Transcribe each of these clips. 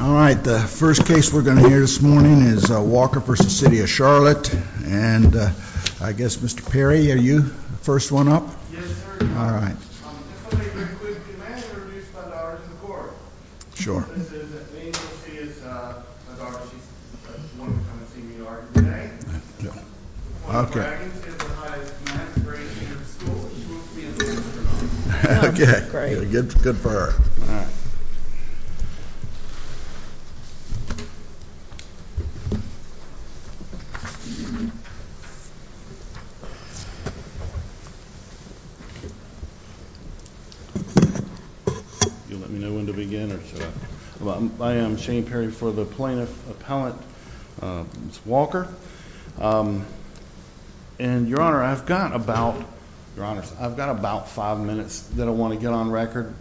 All right, the first case we're going to hear this morning is Walker v. City of Charlotte. And I guess, Mr. Perry, are you the first one up? Yes, sir. All right. If I may very quickly, may I introduce Nadara McCord? Sure. This is a female. She is Nadara. She's the first one to come and see me already today. Okay. She's one of the highest-ranked grade students in the school, and she wants to be an astronaut. Okay, good for her. You'll let me know when to begin, or should I? I am Shane Perry for the plaintiff appellant, Ms. Walker. And, Your Honor, I've got about five minutes that I want to get on record.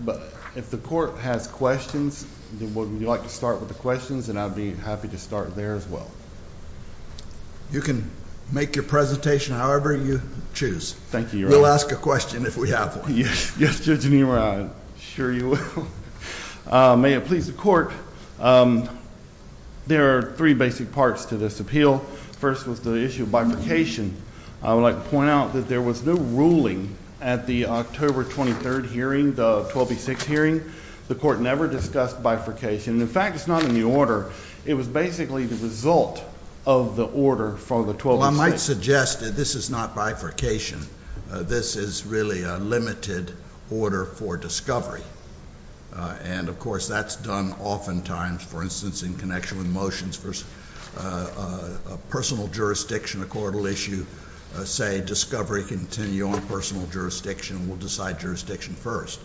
If the court has questions, would you like to start with the questions? And I'd be happy to start there as well. You can make your presentation however you choose. Thank you, Your Honor. We'll ask a question if we have one. Yes, Judge Neumann, I'm sure you will. May it please the court, there are three basic parts to this appeal. First was the issue of bifurcation. I would like to point out that there was no ruling at the October 23rd hearing, the 12B6 hearing. The court never discussed bifurcation. In fact, it's not in the order. It was basically the result of the order from the 12B6. Well, I might suggest that this is not bifurcation. This is really a limited order for discovery. And, of course, that's done oftentimes, for instance, in connection with motions, a personal jurisdiction, a court will issue, say, discovery continue on personal jurisdiction. We'll decide jurisdiction first.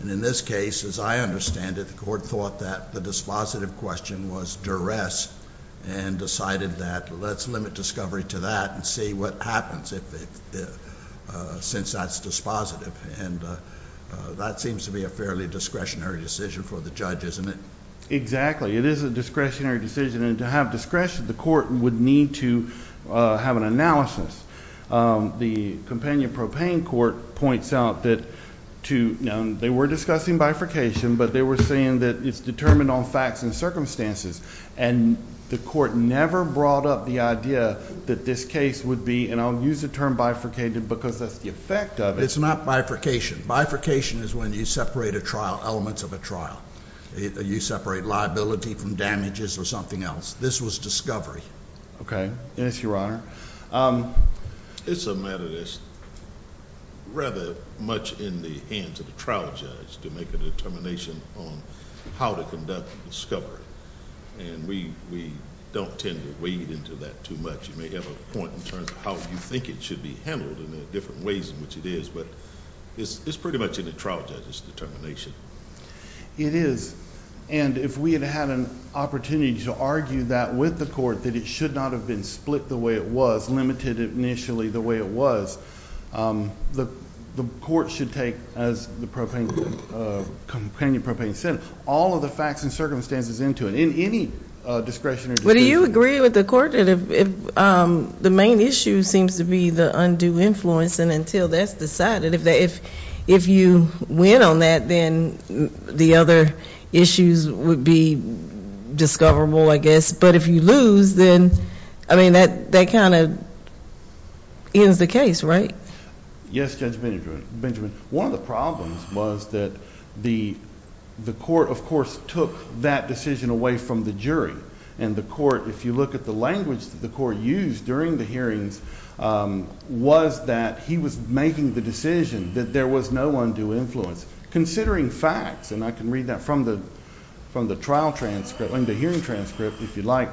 And in this case, as I understand it, the court thought that the dispositive question was duress and decided that let's limit discovery to that and see what happens since that's dispositive. And that seems to be a fairly discretionary decision for the judge, isn't it? Exactly. It is a discretionary decision. And to have discretion, the court would need to have an analysis. The Companion Propane Court points out that they were discussing bifurcation, but they were saying that it's determined on facts and circumstances. And the court never brought up the idea that this case would be, and I'll use the term bifurcated because that's the effect of it. It's not bifurcation. Bifurcation is when you separate a trial, elements of a trial. You separate liability from damages or something else. This was discovery. Yes, Your Honor. It's a matter that's rather much in the hands of the trial judge to make a determination on how to conduct discovery. And we don't tend to wade into that too much. You may have a point in terms of how you think it should be handled and the different ways in which it is, but it's pretty much in the trial judge's determination. It is. And if we had had an opportunity to argue that with the court, that it should not have been split the way it was, limited initially the way it was, the court should take, as the Companion Propane said, all of the facts and circumstances into it, in any discretion or dispute. Well, do you agree with the court that the main issue seems to be the undue influence? And until that's decided, if you win on that, then the other issues would be discoverable, I guess. But if you lose, then, I mean, that kind of ends the case, right? Yes, Judge Benjamin. One of the problems was that the court, of course, took that decision away from the jury. And the court, if you look at the language that the court used during the hearings, was that he was making the decision that there was no undue influence. Considering facts, and I can read that from the hearing transcript, if you'd like,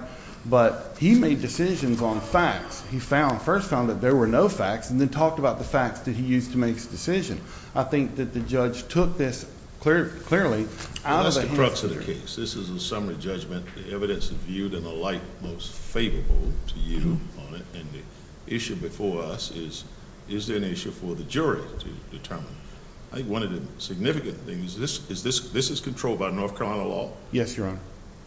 but he made decisions on facts. He first found that there were no facts and then talked about the facts that he used to make his decision. I think that the judge took this clearly out of the hands of the jury. Well, that's the crux of the case. This is a summary judgment. The evidence is viewed in a light most favorable to you on it. And the issue before us is, is there an issue for the jury to determine? I think one of the significant things, this is controlled by North Carolina law? Yes, Your Honor.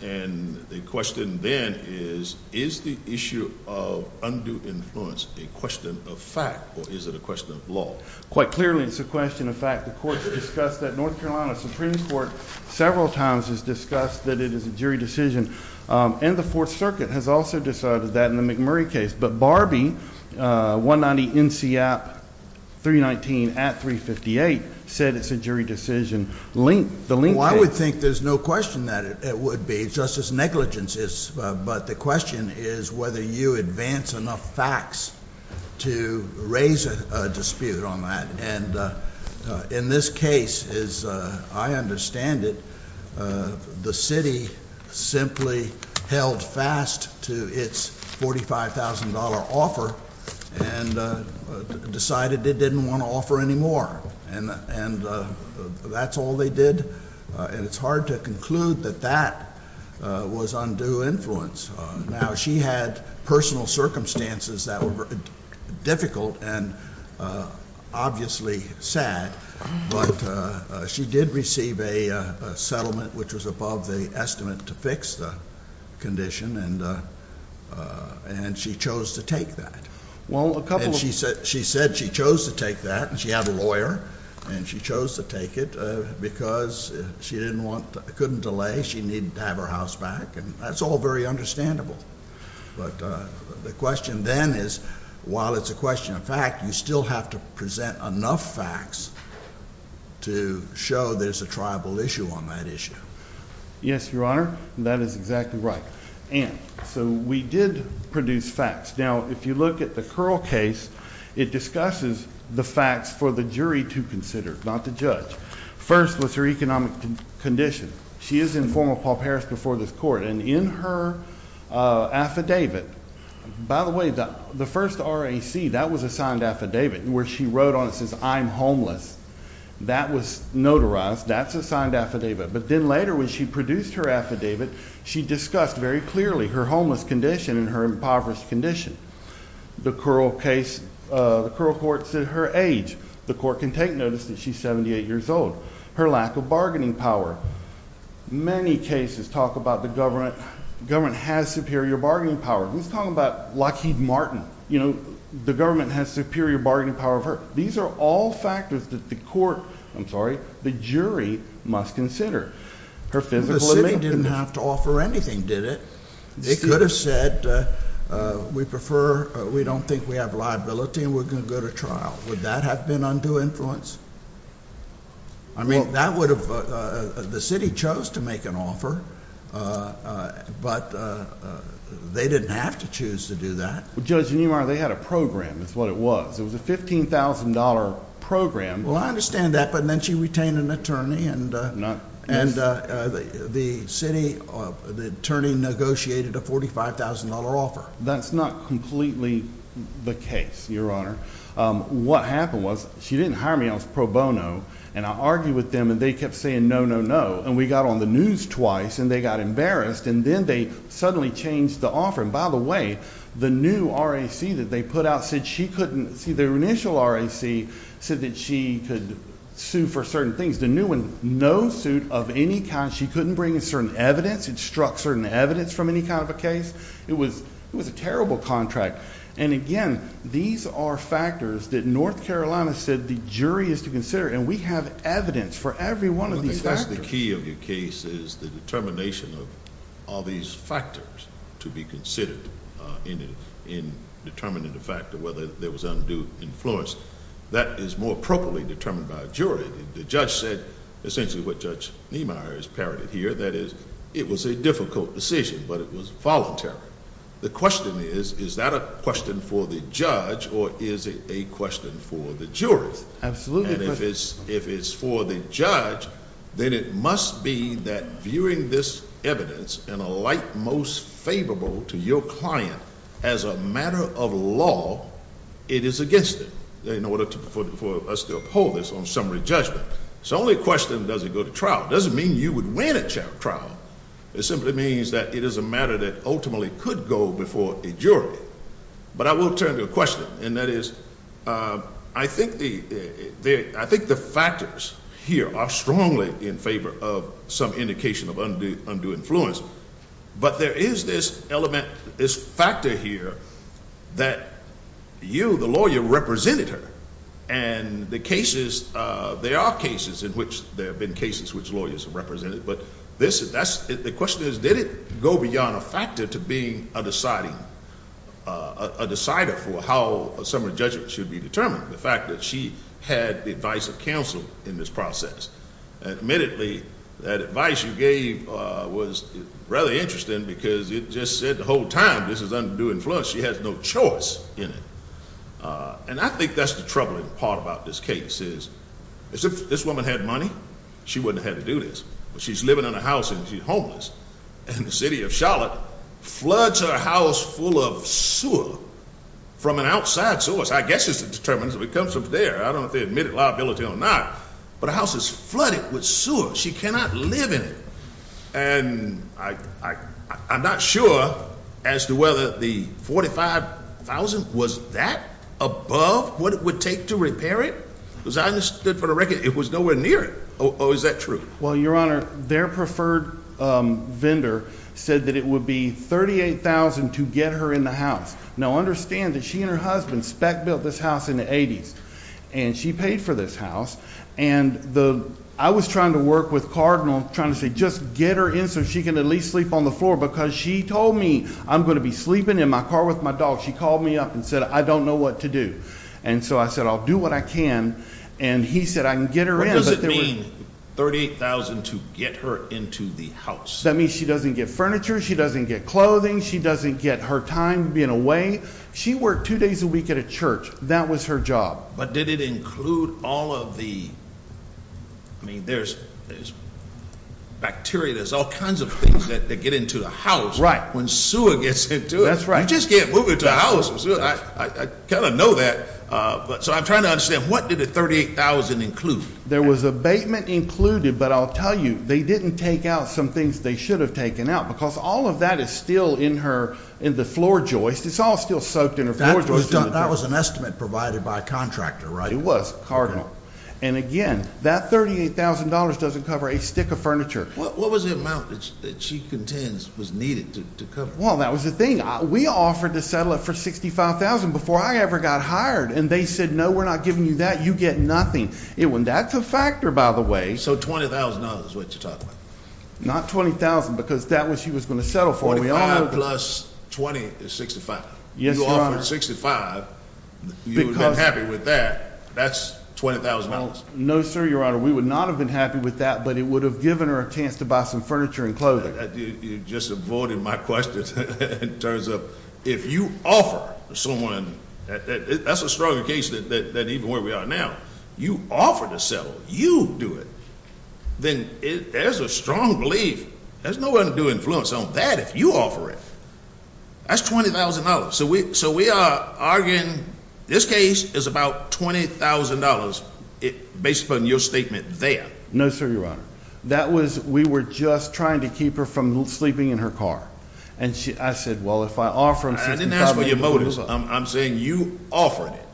And the question then is, is the issue of undue influence a question of fact, or is it a question of law? Quite clearly, it's a question of fact. The court has discussed that. North Carolina Supreme Court several times has discussed that it is a jury decision. And the Fourth Circuit has also decided that in the McMurray case. But Barbie, 190 NCAP 319 at 358, said it's a jury decision. Well, I would think there's no question that it would be. It's just as negligent, but the question is whether you advance enough facts to raise a dispute on that. And in this case, as I understand it, the city simply held fast to its $45,000 offer and decided it didn't want to offer any more. And that's all they did. And it's hard to conclude that that was undue influence. Now, she had personal circumstances that were difficult and obviously sad. But she did receive a settlement which was above the estimate to fix the condition, and she chose to take that. And she said she chose to take that. And she had a lawyer, and she chose to take it because she couldn't delay. She needed to have her house back. And that's all very understandable. But the question then is, while it's a question of fact, you still have to present enough facts to show there's a tribal issue on that issue. Yes, Your Honor, that is exactly right. And so we did produce facts. Now, if you look at the Curl case, it discusses the facts for the jury to consider, not the judge. First was her economic condition. She is in form of Paul Paris before this court. And in her affidavit, by the way, the first RAC, that was a signed affidavit, where she wrote on it says, I'm homeless. That was notarized. That's a signed affidavit. But then later when she produced her affidavit, she discussed very clearly her homeless condition and her impoverished condition. The Curl case, the Curl court said her age. The court can take notice that she's 78 years old. Her lack of bargaining power. Many cases talk about the government. The government has superior bargaining power. Who's talking about Lockheed Martin? You know, the government has superior bargaining power. These are all factors that the court, I'm sorry, the jury must consider. The city didn't have to offer anything, did it? They could have said, we prefer, we don't think we have liability and we're going to go to trial. Would that have been undue influence? I mean, that would have, the city chose to make an offer, but they didn't have to choose to do that. Judge Neumar, they had a program is what it was. It was a $15,000 program. Well, I understand that, but then she retained an attorney and the city, the attorney negotiated a $45,000 offer. That's not completely the case, Your Honor. What happened was she didn't hire me. I was pro bono, and I argued with them, and they kept saying no, no, no. And we got on the news twice, and they got embarrassed, and then they suddenly changed the offer. And by the way, the new RAC that they put out said she couldn't, see, the initial RAC said that she could sue for certain things. The new one, no suit of any kind. She couldn't bring in certain evidence. It struck certain evidence from any kind of a case. It was a terrible contract. And again, these are factors that North Carolina said the jury is to consider, and we have evidence for every one of these factors. I think that's the key of your case is the determination of all these factors to be considered in determining the fact of whether there was undue influence. That is more appropriately determined by a jury. The judge said essentially what Judge Neumar has parodied here, that is it was a difficult decision, but it was voluntary. The question is, is that a question for the judge, or is it a question for the jury? Absolutely. And if it's for the judge, then it must be that viewing this evidence in a light most favorable to your client as a matter of law, it is against it in order for us to uphold this on summary judgment. It's the only question that doesn't go to trial. It doesn't mean you would win a trial. It simply means that it is a matter that ultimately could go before a jury. But I will turn to a question, and that is I think the factors here are strongly in favor of some indication of undue influence. But there is this element, this factor here that you, the lawyer, represented her. And the cases, there are cases in which there have been cases which lawyers have represented, but the question is, did it go beyond a factor to being a decider for how a summary judgment should be determined? The fact that she had the advice of counsel in this process. Admittedly, that advice you gave was rather interesting because it just said the whole time this is undue influence. She has no choice in it. And I think that's the troubling part about this case is if this woman had money, she wouldn't have had to do this. But she's living in a house and she's homeless. And the city of Charlotte floods her house full of sewer from an outside source. I guess it determines if it comes from there. I don't know if they admit it liability or not. But the house is flooded with sewer. She cannot live in it. And I'm not sure as to whether the $45,000, was that above what it would take to repair it? Because I understood for the record it was nowhere near it. Or is that true? Well, Your Honor, their preferred vendor said that it would be $38,000 to get her in the house. Now, understand that she and her husband spec built this house in the 80s. And she paid for this house. And I was trying to work with Cardinal, trying to say just get her in so she can at least sleep on the floor. Because she told me I'm going to be sleeping in my car with my dog. She called me up and said, I don't know what to do. And so I said, I'll do what I can. And he said, I can get her in. What does it mean, $38,000 to get her into the house? That means she doesn't get furniture. She doesn't get clothing. She doesn't get her time being away. She worked two days a week at a church. That was her job. But did it include all of the, I mean, there's bacteria, there's all kinds of things that get into a house. Right. When sewer gets into it. That's right. You just can't move it to a house. I kind of know that. So I'm trying to understand, what did the $38,000 include? There was abatement included. But I'll tell you, they didn't take out some things they should have taken out. Because all of that is still in her, in the floor joist. It's all still soaked in her floor joist. That was an estimate provided by a contractor, right? It was, cardinal. And, again, that $38,000 doesn't cover a stick of furniture. What was the amount that she contends was needed to cover? Well, that was the thing. We offered to settle it for $65,000 before I ever got hired. And they said, no, we're not giving you that. You get nothing. That's a factor, by the way. So $20,000 is what you're talking about. Not $20,000, because that's what she was going to settle for. $45,000 plus $20,000 is $65,000. Yes, Your Honor. You offered $65,000. You would have been happy with that. That's $20,000. No, sir, Your Honor. We would not have been happy with that. But it would have given her a chance to buy some furniture and clothing. You just avoided my question. It turns out if you offer someone, that's a stronger case than even where we are now. You offer to settle. You do it. Then there's a strong belief. There's no way to do influence on that if you offer it. That's $20,000. So we are arguing this case is about $20,000 based upon your statement there. No, sir, Your Honor. That was we were just trying to keep her from sleeping in her car. And I said, well, if I offer them $65,000. I didn't ask for your motives. I'm saying you offered it.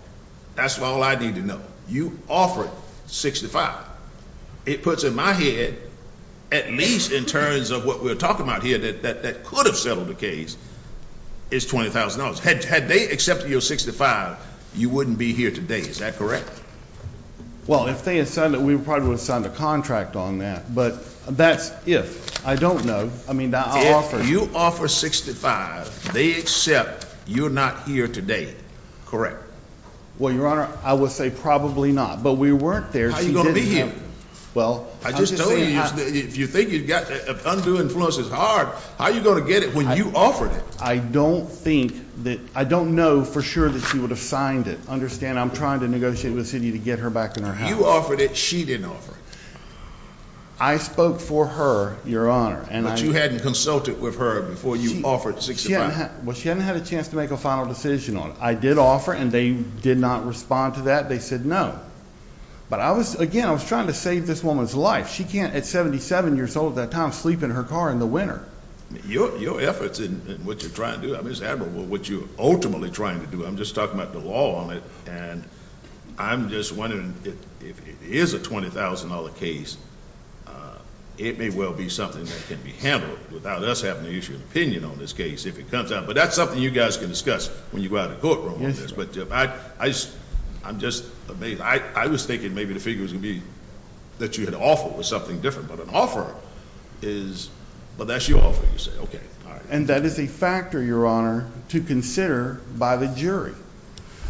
That's all I need to know. You offered $65,000. It puts in my head, at least in terms of what we're talking about here that could have settled the case, is $20,000. Had they accepted your $65,000, you wouldn't be here today. Is that correct? Well, if they had signed it, we probably would have signed a contract on that. But that's if. I don't know. If you offer $65,000, they accept you're not here today, correct? Well, Your Honor, I would say probably not. But we weren't there. How are you going to be here? Well, I'm just saying. If you think you've got undue influence is hard, how are you going to get it when you offered it? I don't think that I don't know for sure that she would have signed it. Understand I'm trying to negotiate with the city to get her back in her house. You offered it. She didn't offer it. I spoke for her, Your Honor. But you hadn't consulted with her before you offered $65,000. Well, she hadn't had a chance to make a final decision on it. I did offer, and they did not respond to that. They said no. But, again, I was trying to save this woman's life. She can't, at 77 years old at that time, sleep in her car in the winter. Your efforts in what you're trying to do, Mr. Admiral, what you're ultimately trying to do, I'm just talking about the law on it, and I'm just wondering if it is a $20,000 case, it may well be something that can be handled without us having to issue an opinion on this case if it comes out. But that's something you guys can discuss when you go out in the courtroom on this. But, Jim, I'm just amazed. I was thinking maybe the figure was going to be that you had offered was something different. But an offer is, well, that's your offer, you say. Okay. All right. And that is a factor, Your Honor, to consider by the jury.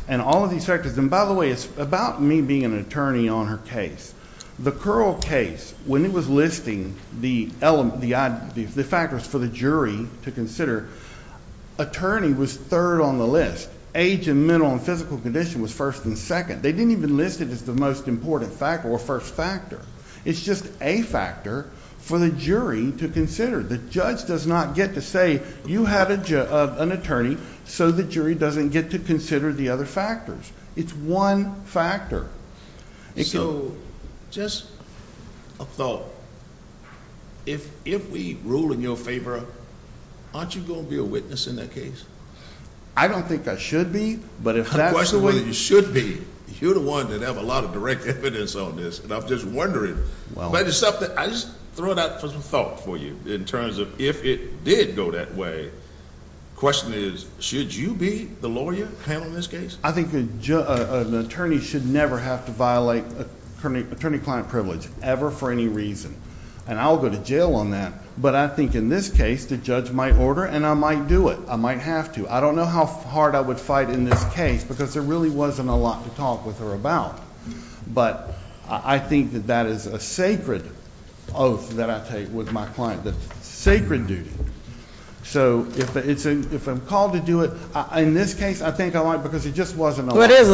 And all of these factors. And, by the way, it's about me being an attorney on her case. The Curl case, when it was listing the factors for the jury to consider, attorney was third on the list. Age and mental and physical condition was first and second. They didn't even list it as the most important factor or first factor. It's just a factor for the jury to consider. The judge does not get to say you have an attorney so the jury doesn't get to consider the other factors. It's one factor. So, just a thought. If we rule in your favor, aren't you going to be a witness in that case? I don't think I should be, but if that's the way... The question is whether you should be. You're the one that has a lot of direct evidence on this, and I'm just wondering. I just throw it out for some thought for you in terms of if it did go that way. The question is, should you be the lawyer handling this case? I think an attorney should never have to violate attorney-client privilege ever for any reason, and I'll go to jail on that, but I think in this case the judge might order and I might do it. I might have to. I don't know how hard I would fight in this case because there really wasn't a lot to talk with her about, but I think that that is a sacred oath that I take with my client. It's a sacred duty. So if I'm called to do it, in this case I think I might because there just wasn't a lot. There's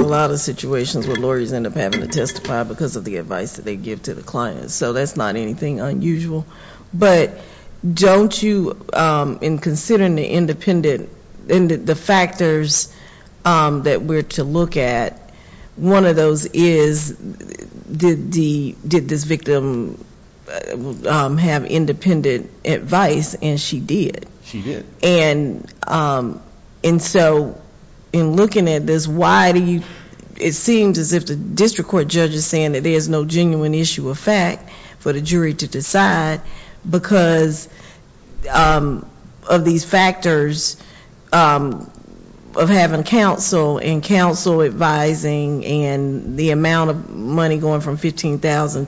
a lot of situations where lawyers end up having to testify because of the advice that they give to the client, so that's not anything unusual. But don't you, in considering the factors that we're to look at, one of those is did this victim have independent advice? And she did. She did. And so in looking at this, why do you, it seems as if the district court judge is saying that there's no genuine issue of fact for the jury to decide because of these factors of having counsel and counsel advising and the amount of money going from $15,000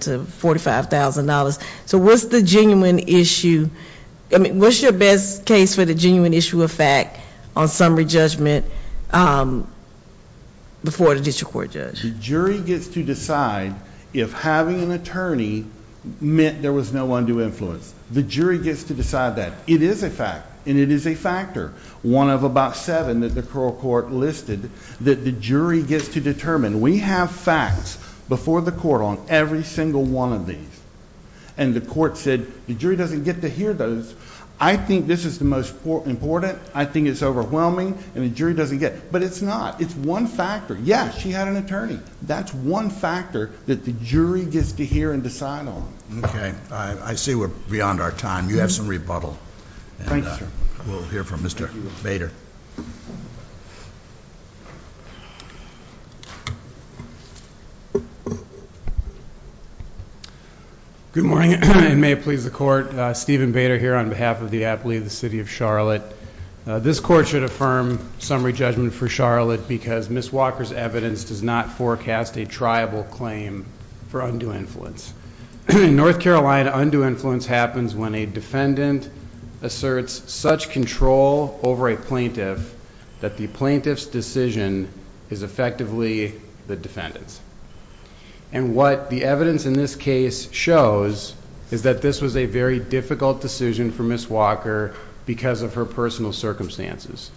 to $45,000. So what's the genuine issue? What's your best case for the genuine issue of fact on summary judgment before the district court judge? The jury gets to decide if having an attorney meant there was no undue influence. The jury gets to decide that. It is a fact, and it is a factor, one of about seven that the coral court listed, that the jury gets to determine. We have facts before the court on every single one of these, and the court said the jury doesn't get to hear those. I think this is the most important. I think it's overwhelming, and the jury doesn't get it. But it's not. It's one factor. Yes, she had an attorney. That's one factor that the jury gets to hear and decide on. I see we're beyond our time. You have some rebuttal. Thank you, sir. We'll hear from Mr. Bader. Good morning, and may it please the Court. Stephen Bader here on behalf of the athlete of the city of Charlotte. This court should affirm summary judgment for Charlotte because Ms. Walker's evidence does not forecast a triable claim for undue influence. In North Carolina, undue influence happens when a defendant asserts such control over a plaintiff that the plaintiff's decision is effectively the defendant's. And what the evidence in this case shows is that this was a very difficult decision for Ms. Walker because of her personal circumstances,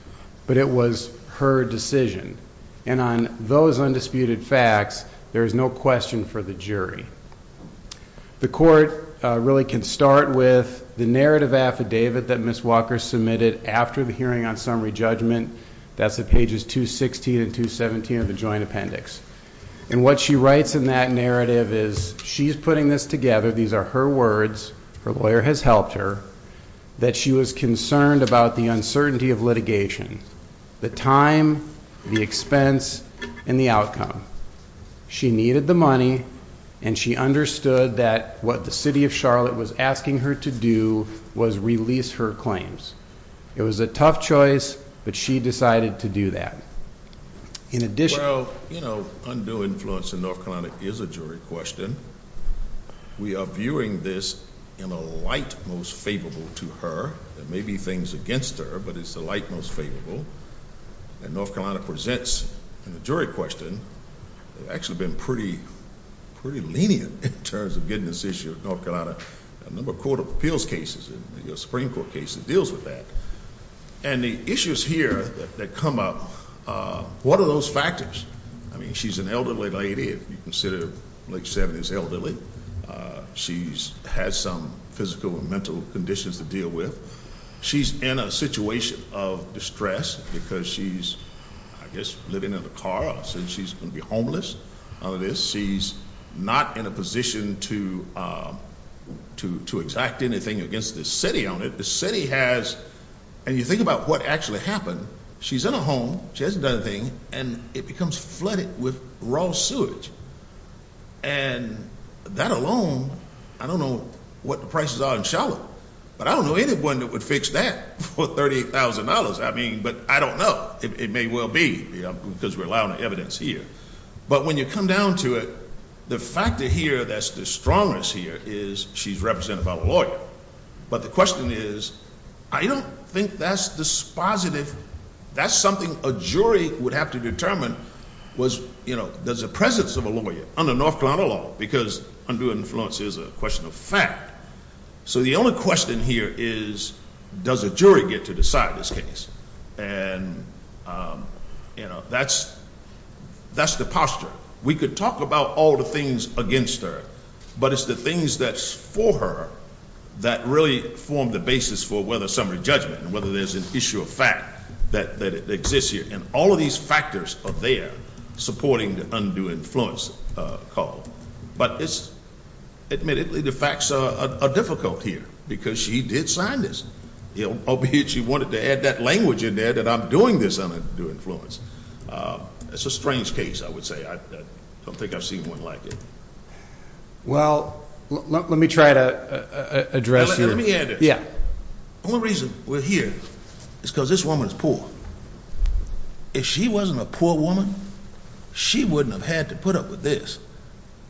but it was her decision. And on those undisputed facts, there is no question for the jury. The court really can start with the narrative affidavit that Ms. Walker submitted after the hearing on summary judgment. That's at pages 216 and 217 of the joint appendix. And what she writes in that narrative is she's putting this together. These are her words. Her lawyer has helped her, that she was concerned about the uncertainty of litigation, the time, the expense, and the outcome. She needed the money, and she understood that what the city of Charlotte was asking her to do was release her claims. It was a tough choice, but she decided to do that. Well, you know, undue influence in North Carolina is a jury question. We are viewing this in a light most favorable to her. There may be things against her, but it's a light most favorable. And North Carolina presents in a jury question. They've actually been pretty lenient in terms of getting this issue to North Carolina. A number of court of appeals cases, Supreme Court cases, deals with that. And the issues here that come up, what are those factors? I mean, she's an elderly lady. If you consider late 70s elderly, she has some physical and mental conditions to deal with. She's in a situation of distress because she's, I guess, living in a car. She's going to be homeless. She's not in a position to exact anything against the city on it. The city has, and you think about what actually happened, she's in a home. She hasn't done a thing, and it becomes flooded with raw sewage. And that alone, I don't know what the prices are in Charlotte. But I don't know anyone that would fix that for $38,000. I mean, but I don't know. It may well be, because we're allowing the evidence here. But when you come down to it, the factor here that's the strongest here is she's represented by a lawyer. But the question is, I don't think that's dispositive. That's something a jury would have to determine was, does the presence of a lawyer under North Carolina law? Because under influence is a question of fact. So the only question here is, does a jury get to decide this case? And that's the posture. We could talk about all the things against her. But it's the things that's for her that really form the basis for whether summary judgment, whether there's an issue of fact that exists here. And all of these factors are there supporting the undue influence call. But admittedly, the facts are difficult here, because she did sign this. Albeit she wanted to add that language in there that I'm doing this undue influence. It's a strange case, I would say. I don't think I've seen one like it. Well, let me try to address your- Let me add it. Yeah. The only reason we're here is because this woman is poor. If she wasn't a poor woman, she wouldn't have had to put up with this.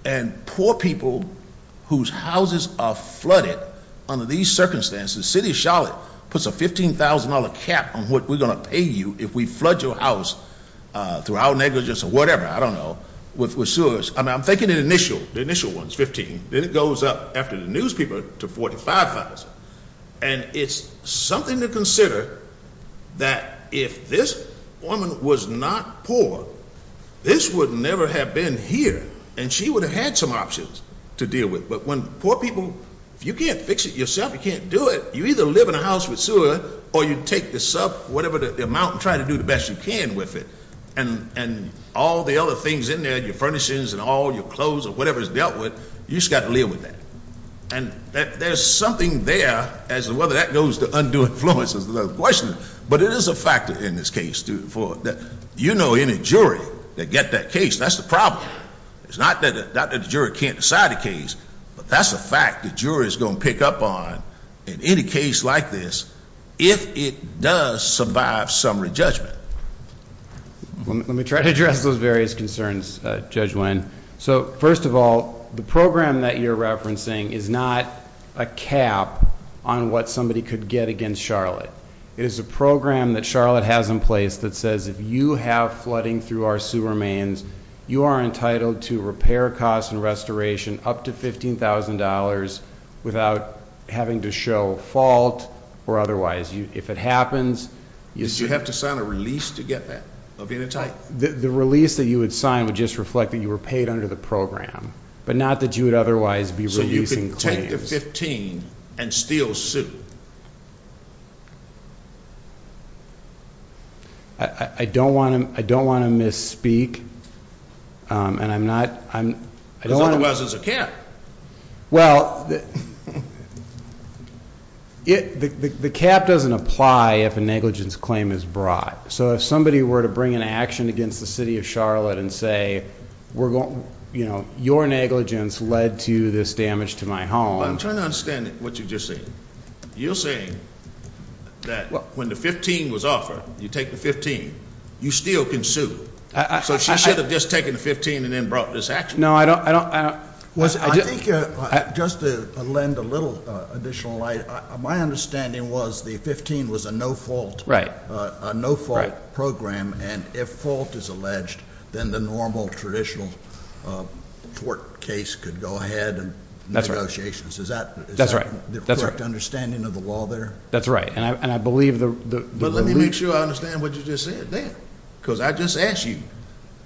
And poor people whose houses are flooded under these circumstances, the city of Charlotte puts a $15,000 cap on what we're going to pay you if we flood your house through our negligence or whatever, I don't know, with sewers. I mean, I'm thinking the initial ones, $15,000. Then it goes up after the newspaper to $45,000. And it's something to consider that if this woman was not poor, this would never have been here. And she would have had some options to deal with. But when poor people, if you can't fix it yourself, you can't do it, you either live in a house with sewer or you take the sub, whatever the amount, and try to do the best you can with it. And all the other things in there, your furnishings and all your clothes or whatever is dealt with, you just got to live with that. And there's something there as to whether that goes to undue influence is another question. But it is a factor in this case. You know any jury that get that case. That's the problem. It's not that the jury can't decide a case, but that's a fact the jury is going to pick up on in any case like this if it does survive summary judgment. Let me try to address those various concerns, Judge Wynn. So first of all, the program that you're referencing is not a cap on what somebody could get against Charlotte. It is a program that Charlotte has in place that says if you have flooding through our sewer mains, you are entitled to repair costs and restoration up to $15,000 without having to show fault or otherwise. If it happens- Did you have to sign a release to get that of being entitled? The release that you would sign would just reflect that you were paid under the program, but not that you would otherwise be releasing claims. So you could take the $15,000 and still sue? I don't want to misspeak, and I'm not- Because otherwise there's a cap. Well, the cap doesn't apply if a negligence claim is brought. So if somebody were to bring an action against the city of Charlotte and say, your negligence led to this damage to my home- I'm trying to understand what you're just saying. You're saying that when the $15,000 was offered, you take the $15,000, you still can sue? So she should have just taken the $15,000 and then brought this action? No, I don't- Just to lend a little additional light, my understanding was the $15,000 was a no-fault program, and if fault is alleged, then the normal traditional court case could go ahead and negotiations. Is that the correct understanding of the law there? That's right, and I believe the- But let me make sure I understand what you just said there, because I just asked you,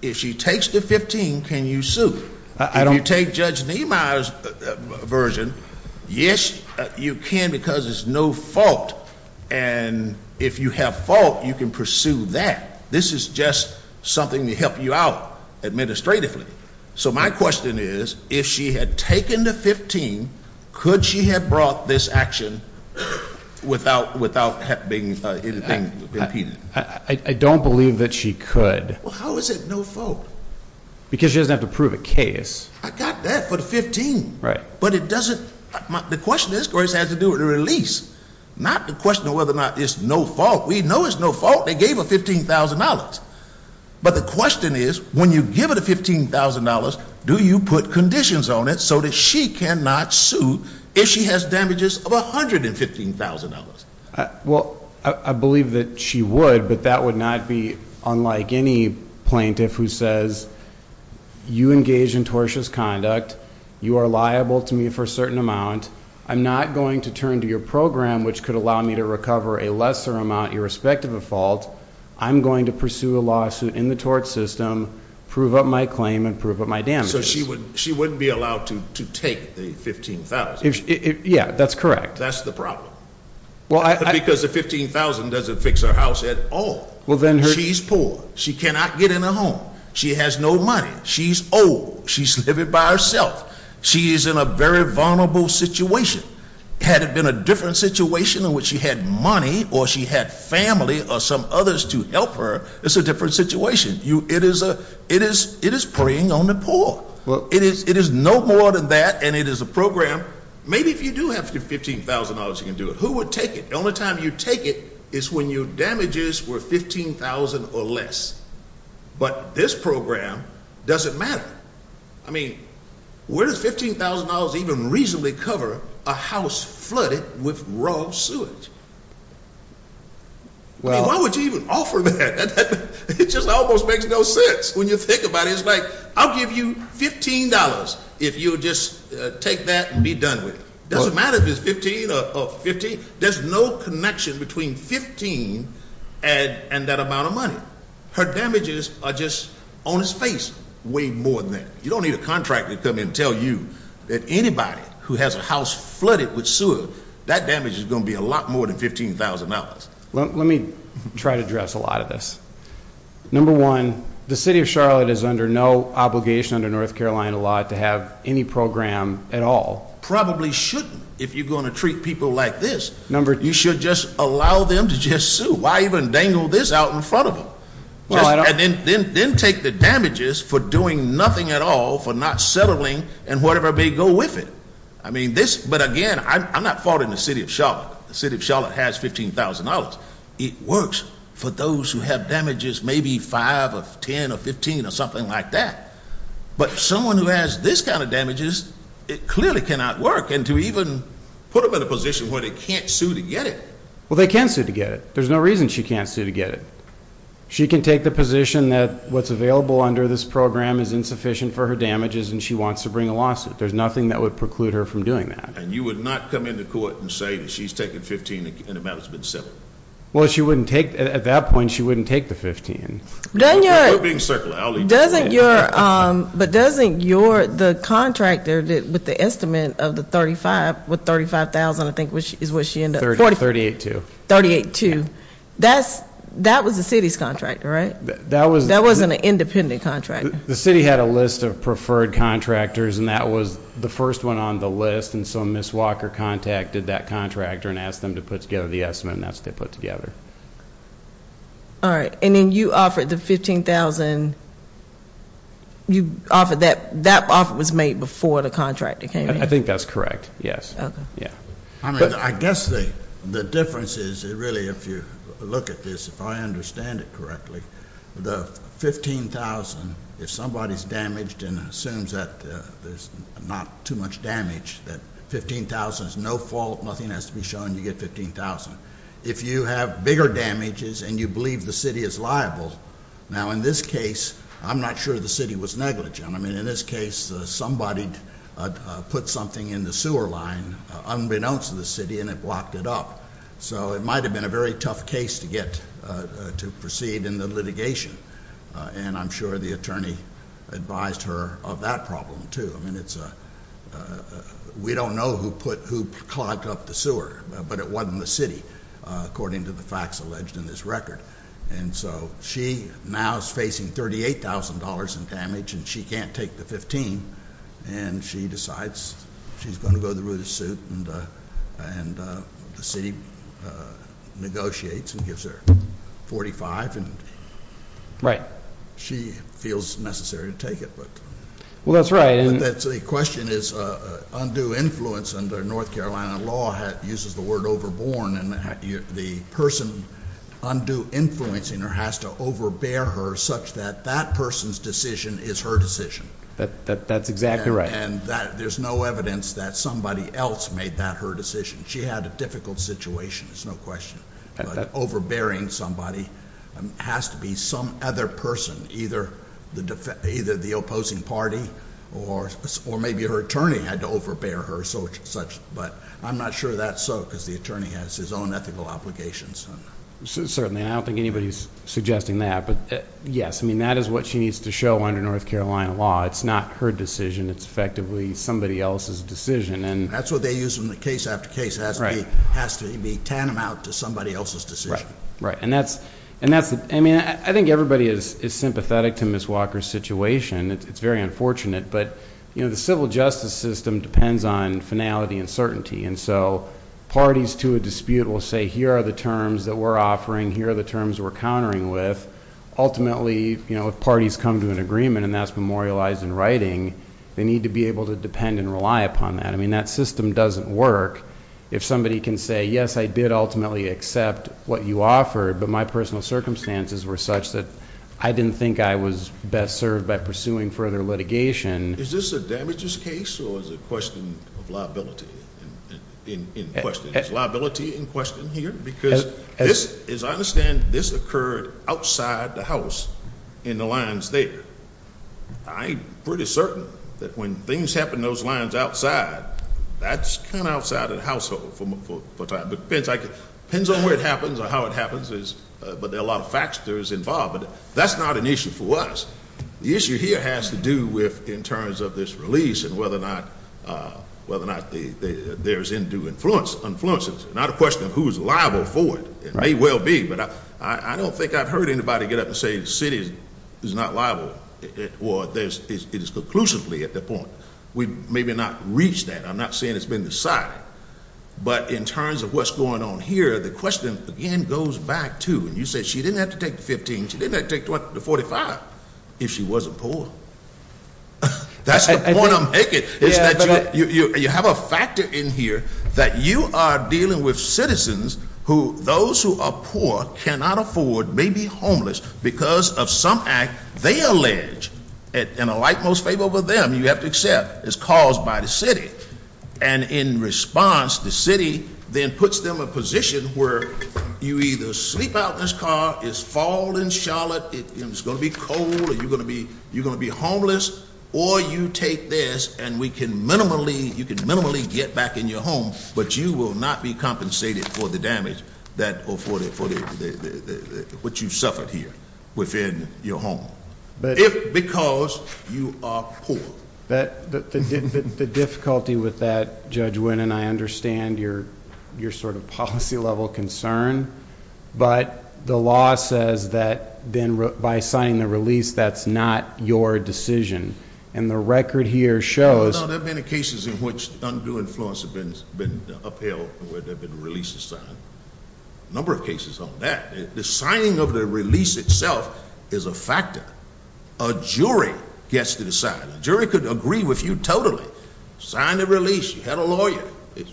if she takes the $15,000, can you sue? If you take Judge Niemeyer's version, yes, you can because it's no fault, and if you have fault, you can pursue that. This is just something to help you out administratively. So my question is, if she had taken the $15,000, could she have brought this action without being impeded? I don't believe that she could. Well, how is it no fault? Because she doesn't have to prove a case. I got that for the $15,000. Right. But it doesn't- the question is, of course, has to do with the release, not the question of whether or not it's no fault. We know it's no fault. They gave her $15,000, but the question is, when you give her the $15,000, do you put conditions on it so that she cannot sue if she has damages of $115,000? Well, I believe that she would, but that would not be unlike any plaintiff who says, you engage in tortious conduct, you are liable to me for a certain amount, I'm not going to turn to your program which could allow me to recover a lesser amount irrespective of fault, I'm going to pursue a lawsuit in the tort system, prove up my claim, and prove up my damages. So she wouldn't be allowed to take the $15,000? Yeah, that's correct. That's the problem. Because the $15,000 doesn't fix her house at all. She's poor. She cannot get in a home. She has no money. She's old. She's living by herself. She is in a very vulnerable situation. Had it been a different situation in which she had money or she had family or some others to help her, it's a different situation. It is preying on the poor. It is no more than that, and it is a program. Maybe if you do have the $15,000, you can do it. Who would take it? The only time you take it is when your damages were $15,000 or less. But this program doesn't matter. I mean, where does $15,000 even reasonably cover a house flooded with raw sewage? I mean, why would you even offer that? It just almost makes no sense when you think about it. It's like I'll give you $15 if you'll just take that and be done with it. It doesn't matter if it's $15 or $15. There's no connection between $15 and that amount of money. Her damages are just on his face way more than that. You don't need a contractor to come in and tell you that anybody who has a house flooded with sewer, that damage is going to be a lot more than $15,000. Let me try to address a lot of this. Number one, the city of Charlotte is under no obligation under North Carolina law to have any program at all. Probably shouldn't if you're going to treat people like this. You should just allow them to just sue. Why even dangle this out in front of them? And then take the damages for doing nothing at all, for not settling, and whatever may go with it. I mean, this, but again, I'm not faulting the city of Charlotte. The city of Charlotte has $15,000. It works for those who have damages maybe 5 or 10 or 15 or something like that. But someone who has this kind of damages, it clearly cannot work. And to even put them in a position where they can't sue to get it. Well, they can sue to get it. There's no reason she can't sue to get it. She can take the position that what's available under this program is insufficient for her damages and she wants to bring a lawsuit. There's nothing that would preclude her from doing that. And you would not come into court and say that she's taken $15,000 and the matter's been settled? Well, she wouldn't take, at that point, she wouldn't take the $15,000. We're being circular. But doesn't your, the contractor with the estimate of the $35,000, I think is what she ended up with. $38,200. $38,200. $38,200. That was the city's contractor, right? That wasn't an independent contractor. The city had a list of preferred contractors, and that was the first one on the list. And so Ms. Walker contacted that contractor and asked them to put together the estimate, and that's what they put together. All right. And then you offered the $15,000. That offer was made before the contractor came in? I think that's correct, yes. Okay. I guess the difference is, really, if you look at this, if I understand it correctly, the $15,000, if somebody's damaged and assumes that there's not too much damage, that $15,000 is no fault, nothing has to be shown, you get $15,000. If you have bigger damages and you believe the city is liable, now, in this case, I'm not sure the city was negligent. I mean, in this case, somebody put something in the sewer line, unbeknownst to the city, and it blocked it up. So it might have been a very tough case to get to proceed in the litigation, and I'm sure the attorney advised her of that problem, too. I mean, we don't know who clogged up the sewer, but it wasn't the city, according to the facts alleged in this record. And so she now is facing $38,000 in damage, and she can't take the $15,000, and she decides she's going to go the route of suit, and the city negotiates and gives her $45,000. Right. She feels necessary to take it. Well, that's right. The question is, undue influence under North Carolina law uses the word overborne, and the person undue influencing her has to overbear her such that that person's decision is her decision. That's exactly right. And there's no evidence that somebody else made that her decision. She had a difficult situation, there's no question. But overbearing somebody has to be some other person, either the opposing party or maybe her attorney had to overbear her, but I'm not sure that's so because the attorney has his own ethical obligations. Certainly. I don't think anybody's suggesting that. But, yes, I mean, that is what she needs to show under North Carolina law. It's not her decision. It's effectively somebody else's decision. That's what they use in the case after case. It has to be tantamount to somebody else's decision. Right, right. And that's, I mean, I think everybody is sympathetic to Ms. Walker's situation. It's very unfortunate. But, you know, the civil justice system depends on finality and certainty. And so parties to a dispute will say here are the terms that we're offering, here are the terms we're countering with. Ultimately, you know, if parties come to an agreement and that's memorialized in writing, they need to be able to depend and rely upon that. I mean, that system doesn't work if somebody can say, yes, I did ultimately accept what you offered, but my personal circumstances were such that I didn't think I was best served by pursuing further litigation. Is this a damages case or is it a question of liability in question? Is liability in question here? Because this, as I understand, this occurred outside the house in the lines there. I'm pretty certain that when things happen in those lines outside, that's kind of outside of the household for a time. Depends on where it happens or how it happens, but there are a lot of factors involved. But that's not an issue for us. The issue here has to do with, in terms of this release and whether or not there's undue influence. Not a question of who's liable for it. It may well be, but I don't think I've heard anybody get up and say the city is not liable. Or it is conclusively at that point. We've maybe not reached that. I'm not saying it's been decided. But in terms of what's going on here, the question, again, goes back to, and you said she didn't have to take the 15, she didn't have to take the 45 if she wasn't poor. That's the point I'm making. Is that you have a factor in here that you are dealing with citizens who, those who are poor, cannot afford, may be homeless because of some act they allege. And a light most favorable to them, you have to accept, is caused by the city. And in response, the city then puts them in a position where you either sleep out in this car, it's fall in Charlotte, it's going to be cold, or you're going to be homeless. Or you take this and you can minimally get back in your home, but you will not be compensated for the damage that afforded for what you suffered here within your home, if because you are poor. The difficulty with that, Judge Wynne, and I understand your sort of policy level concern, but the law says that by signing the release, that's not your decision. And the record here shows- No, there have been cases in which undue influence has been upheld where there have been releases signed. A number of cases on that. The signing of the release itself is a factor. A jury gets to decide. A jury could agree with you totally. Sign the release. You had a lawyer.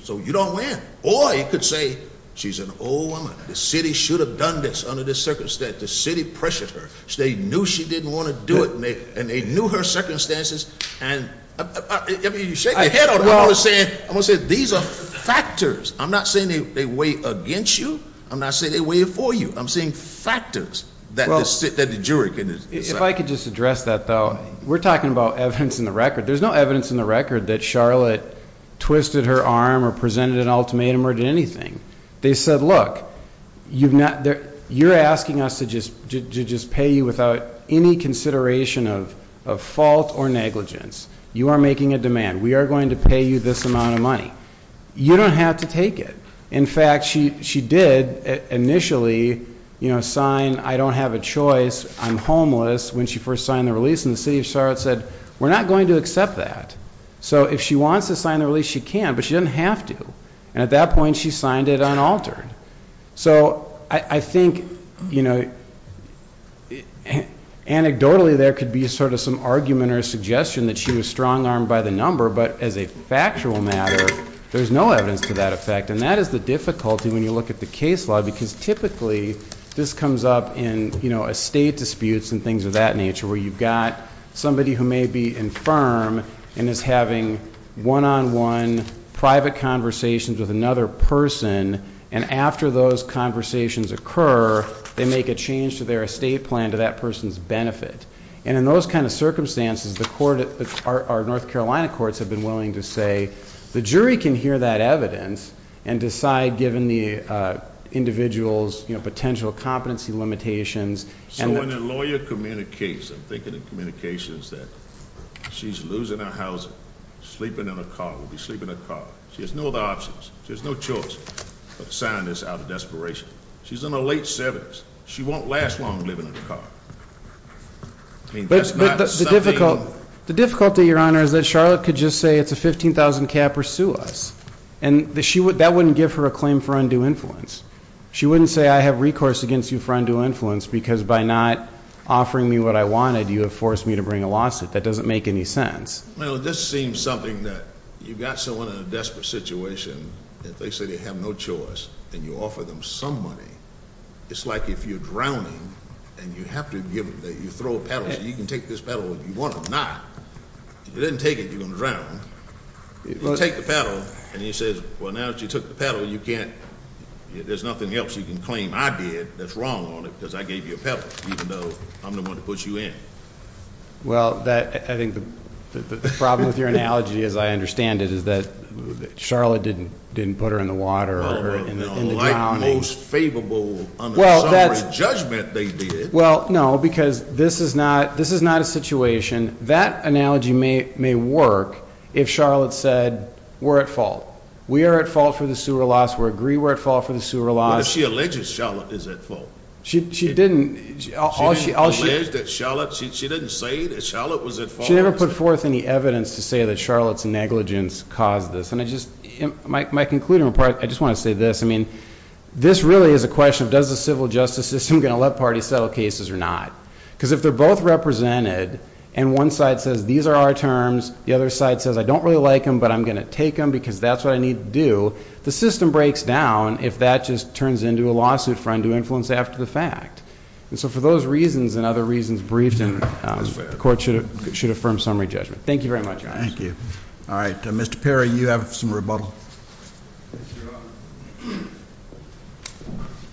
So you don't win. Or you could say, she's an old woman. The city should have done this under this circumstance. The city pressured her. They knew she didn't want to do it, and they knew her circumstances. And I mean, you're shaking your head. I'm going to say these are factors. I'm not saying they weigh against you. I'm not saying they weigh for you. I'm saying factors that the jury can decide. If I could just address that, though. We're talking about evidence in the record. There's no evidence in the record that Charlotte twisted her arm or presented an ultimatum or did anything. They said, look, you're asking us to just pay you without any consideration of fault or negligence. You are making a demand. We are going to pay you this amount of money. You don't have to take it. In fact, she did initially sign, I don't have a choice, I'm homeless, when she first signed the release. And the city of Charlotte said, we're not going to accept that. So if she wants to sign the release, she can, but she doesn't have to. And at that point, she signed it unaltered. So I think anecdotally there could be sort of some argument or suggestion that she was strong-armed by the number. But as a factual matter, there's no evidence to that effect. And that is the difficulty when you look at the case law, because typically this comes up in estate disputes and things of that nature, where you've got somebody who may be infirm and is having one-on-one private conversations with another person. And after those conversations occur, they make a change to their estate plan to that person's benefit. And in those kind of circumstances, our North Carolina courts have been willing to say, the jury can hear that evidence and decide, given the individual's potential competency limitations. So when a lawyer communicates, I'm thinking of communications that she's losing her housing, sleeping in a car, will be sleeping in a car. She has no other options. She has no choice but to sign this out of desperation. She's in her late 70s. She won't last long living in a car. I mean, that's not something- But the difficulty, Your Honor, is that Charlotte could just say it's a 15,000 cap or sue us. And that wouldn't give her a claim for undue influence. She wouldn't say I have recourse against you for undue influence because by not offering me what I wanted, you have forced me to bring a lawsuit. That doesn't make any sense. Well, this seems something that you've got someone in a desperate situation, and they say they have no choice, and you offer them some money. It's like if you're drowning and you have to give, you throw a paddle. You can take this paddle if you want or not. If you didn't take it, you're going to drown. You take the paddle, and he says, well, now that you took the paddle, you can't, there's nothing else you can claim I did that's wrong on it because I gave you a paddle, even though I'm the one to put you in. Well, I think the problem with your analogy, as I understand it, is that Charlotte didn't put her in the water or in the drowning. Well, no, because this is not a situation. That analogy may work if Charlotte said we're at fault. We are at fault for the sewer loss. We agree we're at fault for the sewer loss. What if she alleges Charlotte is at fault? She didn't. She didn't allege that Charlotte, she didn't say that Charlotte was at fault. She never put forth any evidence to say that Charlotte's negligence caused this. My concluding part, I just want to say this. I mean, this really is a question of does the civil justice system going to let parties settle cases or not? Because if they're both represented and one side says these are our terms, the other side says I don't really like them, but I'm going to take them because that's what I need to do, the system breaks down if that just turns into a lawsuit for him to influence after the fact. And so for those reasons and other reasons briefed, the court should affirm summary judgment. Thank you very much. Thank you. All right. Mr. Perry, you have some rebuttal. Yes, Your Honor.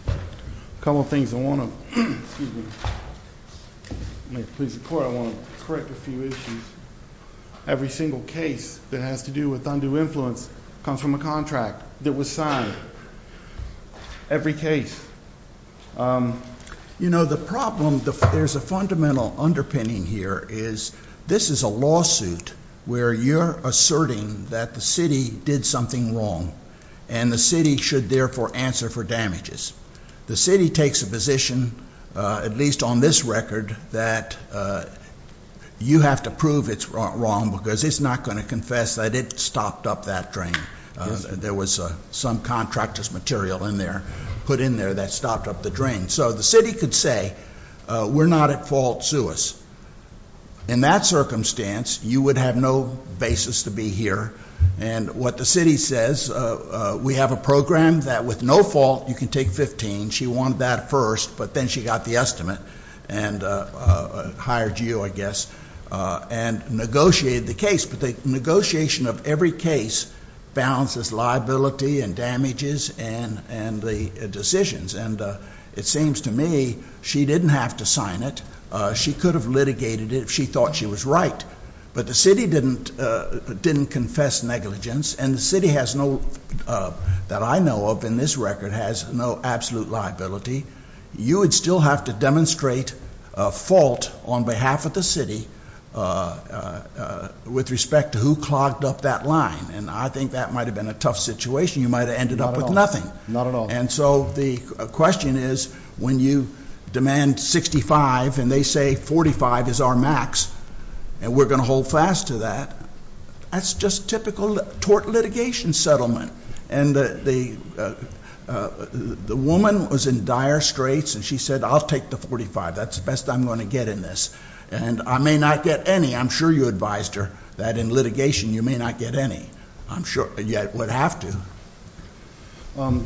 A couple of things I want to, excuse me. May it please the court, I want to correct a few issues. Every single case that has to do with undue influence comes from a contract that was signed. Every case. You know, the problem, there's a fundamental underpinning here is this is a lawsuit where you're asserting that the city did something wrong, and the city should therefore answer for damages. The city takes a position, at least on this record, that you have to prove it's wrong because it's not going to confess that it stopped up that drain. There was some contract as material in there, put in there that stopped up the drain. So the city could say we're not at fault, sue us. In that circumstance, you would have no basis to be here. And what the city says, we have a program that with no fault you can take 15. She wanted that first, but then she got the estimate and hired you, I guess, and negotiated the case. But the negotiation of every case balances liability and damages and the decisions. And it seems to me she didn't have to sign it. She could have litigated it if she thought she was right. But the city didn't confess negligence, and the city has no, that I know of in this record, has no absolute liability. You would still have to demonstrate a fault on behalf of the city with respect to who clogged up that line. And I think that might have been a tough situation. You might have ended up with nothing. Not at all. And so the question is when you demand 65 and they say 45 is our max and we're going to hold fast to that, that's just typical tort litigation settlement. And the woman was in dire straits, and she said I'll take the 45. That's the best I'm going to get in this. And I may not get any. I'm sure you advised her that in litigation you may not get any. I'm sure you would have to.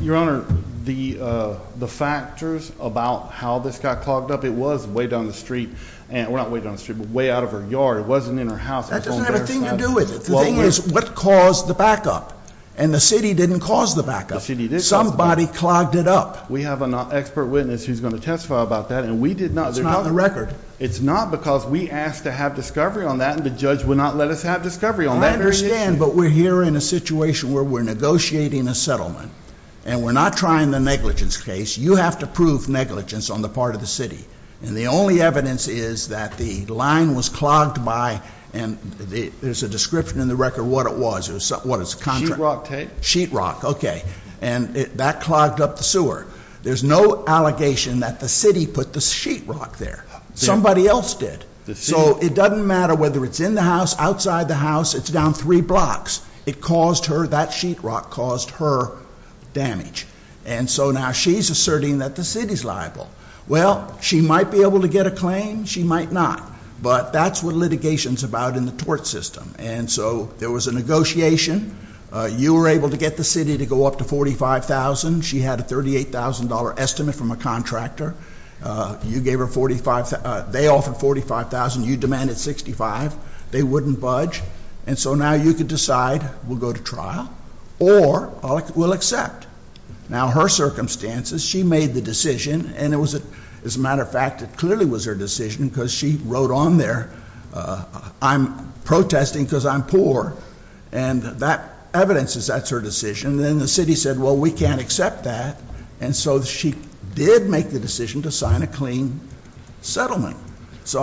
Your Honor, the factors about how this got clogged up, it was way down the street. Well, not way down the street, but way out of her yard. It wasn't in her house. That doesn't have anything to do with it. The thing is what caused the backup? And the city didn't cause the backup. The city did cause the backup. Somebody clogged it up. We have an expert witness who's going to testify about that, and we did not. It's not on the record. It's not because we asked to have discovery on that, and the judge would not let us have discovery on that very issue. I understand, but we're here in a situation where we're negotiating a settlement, and we're not trying the negligence case. You have to prove negligence on the part of the city. And the only evidence is that the line was clogged by, and there's a description in the record of what it was. What is it, contract? Sheetrock tape. Sheetrock, okay. And that clogged up the sewer. There's no allegation that the city put the sheetrock there. Somebody else did. So it doesn't matter whether it's in the house, outside the house. It's down three blocks. It caused her, that sheetrock caused her damage. And so now she's asserting that the city's liable. Well, she might be able to get a claim. She might not. But that's what litigation's about in the tort system. And so there was a negotiation. You were able to get the city to go up to $45,000. She had a $38,000 estimate from a contractor. You gave her $45,000. They offered $45,000. You demanded $65,000. They wouldn't budge. And so now you could decide we'll go to trial or we'll accept. Now, her circumstances, she made the decision. And, as a matter of fact, it clearly was her decision because she wrote on there, I'm protesting because I'm poor. And that evidences that's her decision. And then the city said, well, we can't accept that. And so she did make the decision to sign a clean settlement. So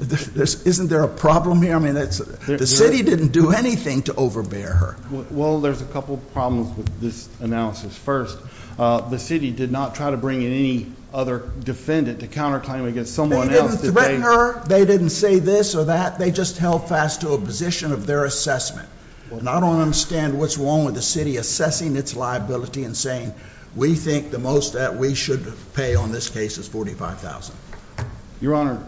isn't there a problem here? The city didn't do anything to overbear her. Well, there's a couple problems with this analysis. First, the city did not try to bring in any other defendant to counterclaim against someone else. They didn't threaten her. They didn't say this or that. They just held fast to a position of their assessment. And I don't understand what's wrong with the city assessing its liability and saying we think the most that we should pay on this case is $45,000. Your Honor,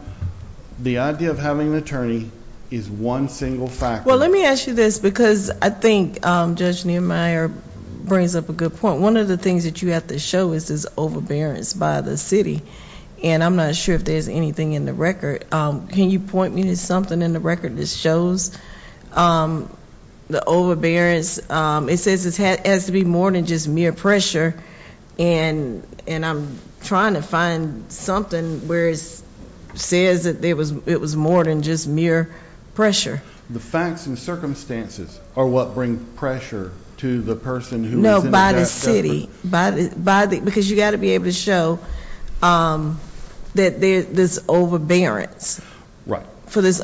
the idea of having an attorney is one single factor. Well, let me ask you this because I think Judge Neumeier brings up a good point. One of the things that you have to show is this overbearance by the city. And I'm not sure if there's anything in the record. Can you point me to something in the record that shows the overbearance? It says it has to be more than just mere pressure. And I'm trying to find something where it says that it was more than just mere pressure. The facts and circumstances are what bring pressure to the person who is in the death sentence. No, by the city, because you've got to be able to show that there's this overbearance for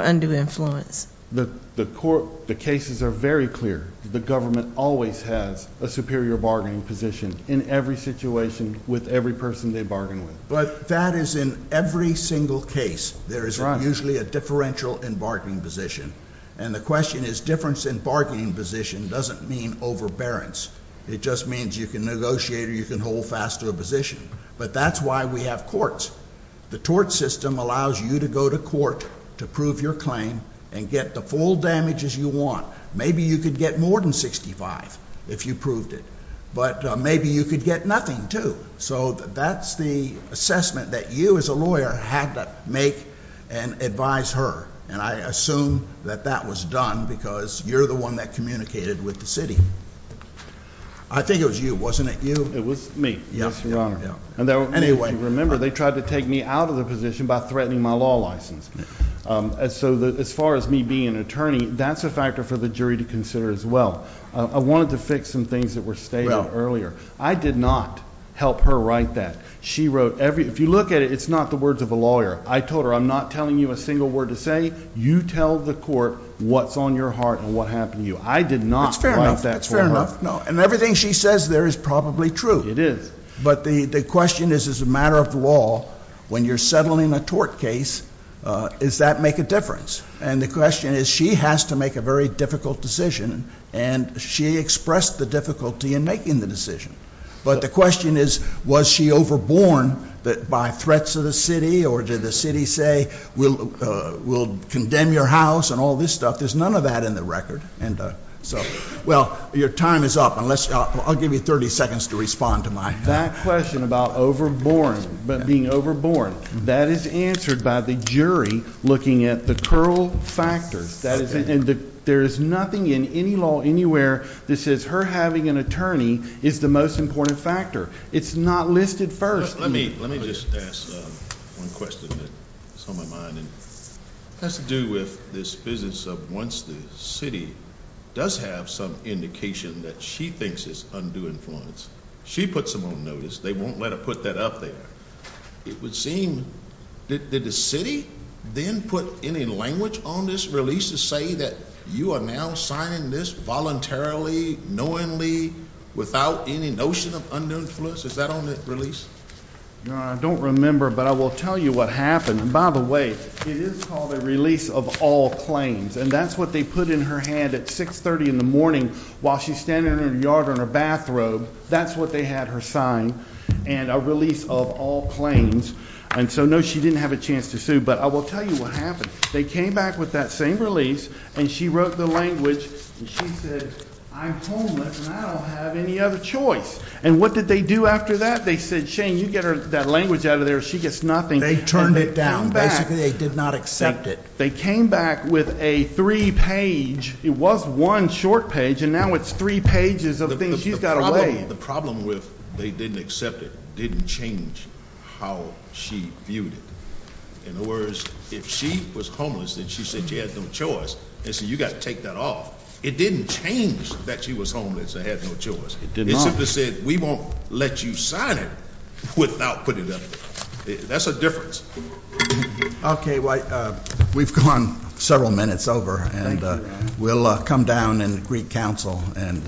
undue influence. The cases are very clear. The government always has a superior bargaining position in every situation with every person they bargain with. But that is in every single case. There is usually a differential in bargaining position. And the question is difference in bargaining position doesn't mean overbearance. It just means you can negotiate or you can hold fast to a position. But that's why we have courts. The tort system allows you to go to court to prove your claim and get the full damages you want. Maybe you could get more than $65,000 if you proved it. But maybe you could get nothing, too. So that's the assessment that you as a lawyer had to make and advise her. And I assume that that was done because you're the one that communicated with the city. I think it was you. Wasn't it you? It was me, Your Honor. And if you remember, they tried to take me out of the position by threatening my law license. So as far as me being an attorney, that's a factor for the jury to consider as well. I wanted to fix some things that were stated earlier. I did not help her write that. She wrote every – if you look at it, it's not the words of a lawyer. I told her I'm not telling you a single word to say. You tell the court what's on your heart and what happened to you. I did not write that for her. That's fair enough. And everything she says there is probably true. It is. But the question is, as a matter of law, when you're settling a tort case, does that make a difference? And the question is, she has to make a very difficult decision, and she expressed the difficulty in making the decision. But the question is, was she overborne by threats of the city, or did the city say, we'll condemn your house and all this stuff? There's none of that in the record. Well, your time is up. I'll give you 30 seconds to respond to my – That question about being overborne, that is answered by the jury looking at the curl factors. There is nothing in any law anywhere that says her having an attorney is the most important factor. It's not listed first. Let me just ask one question that's on my mind. It has to do with this business of once the city does have some indication that she thinks it's undue influence, she puts them on notice. They won't let her put that up there. It would seem, did the city then put any language on this release to say that you are now signing this voluntarily, knowingly, without any notion of undue influence? Is that on the release? No, I don't remember, but I will tell you what happened. By the way, it is called a release of all claims, and that's what they put in her hand at 630 in the morning while she's standing in her yard or in her bathrobe. That's what they had her sign, and a release of all claims. And so, no, she didn't have a chance to sue, but I will tell you what happened. They came back with that same release, and she wrote the language, and she said, I'm homeless, and I don't have any other choice. And what did they do after that? They said, Shane, you get that language out of there or she gets nothing. And they turned it down. Basically, they did not accept it. They came back with a three-page, it was one short page, and now it's three pages of things she's got to weigh. The problem with they didn't accept it didn't change how she viewed it. In other words, if she was homeless and she said she had no choice, they said, you've got to take that off. It didn't change that she was homeless or had no choice. It simply said, we won't let you sign it without putting it up there. That's the difference. We've gone several minutes over, and we'll come down and greet counsel and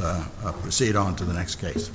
proceed on to the next case.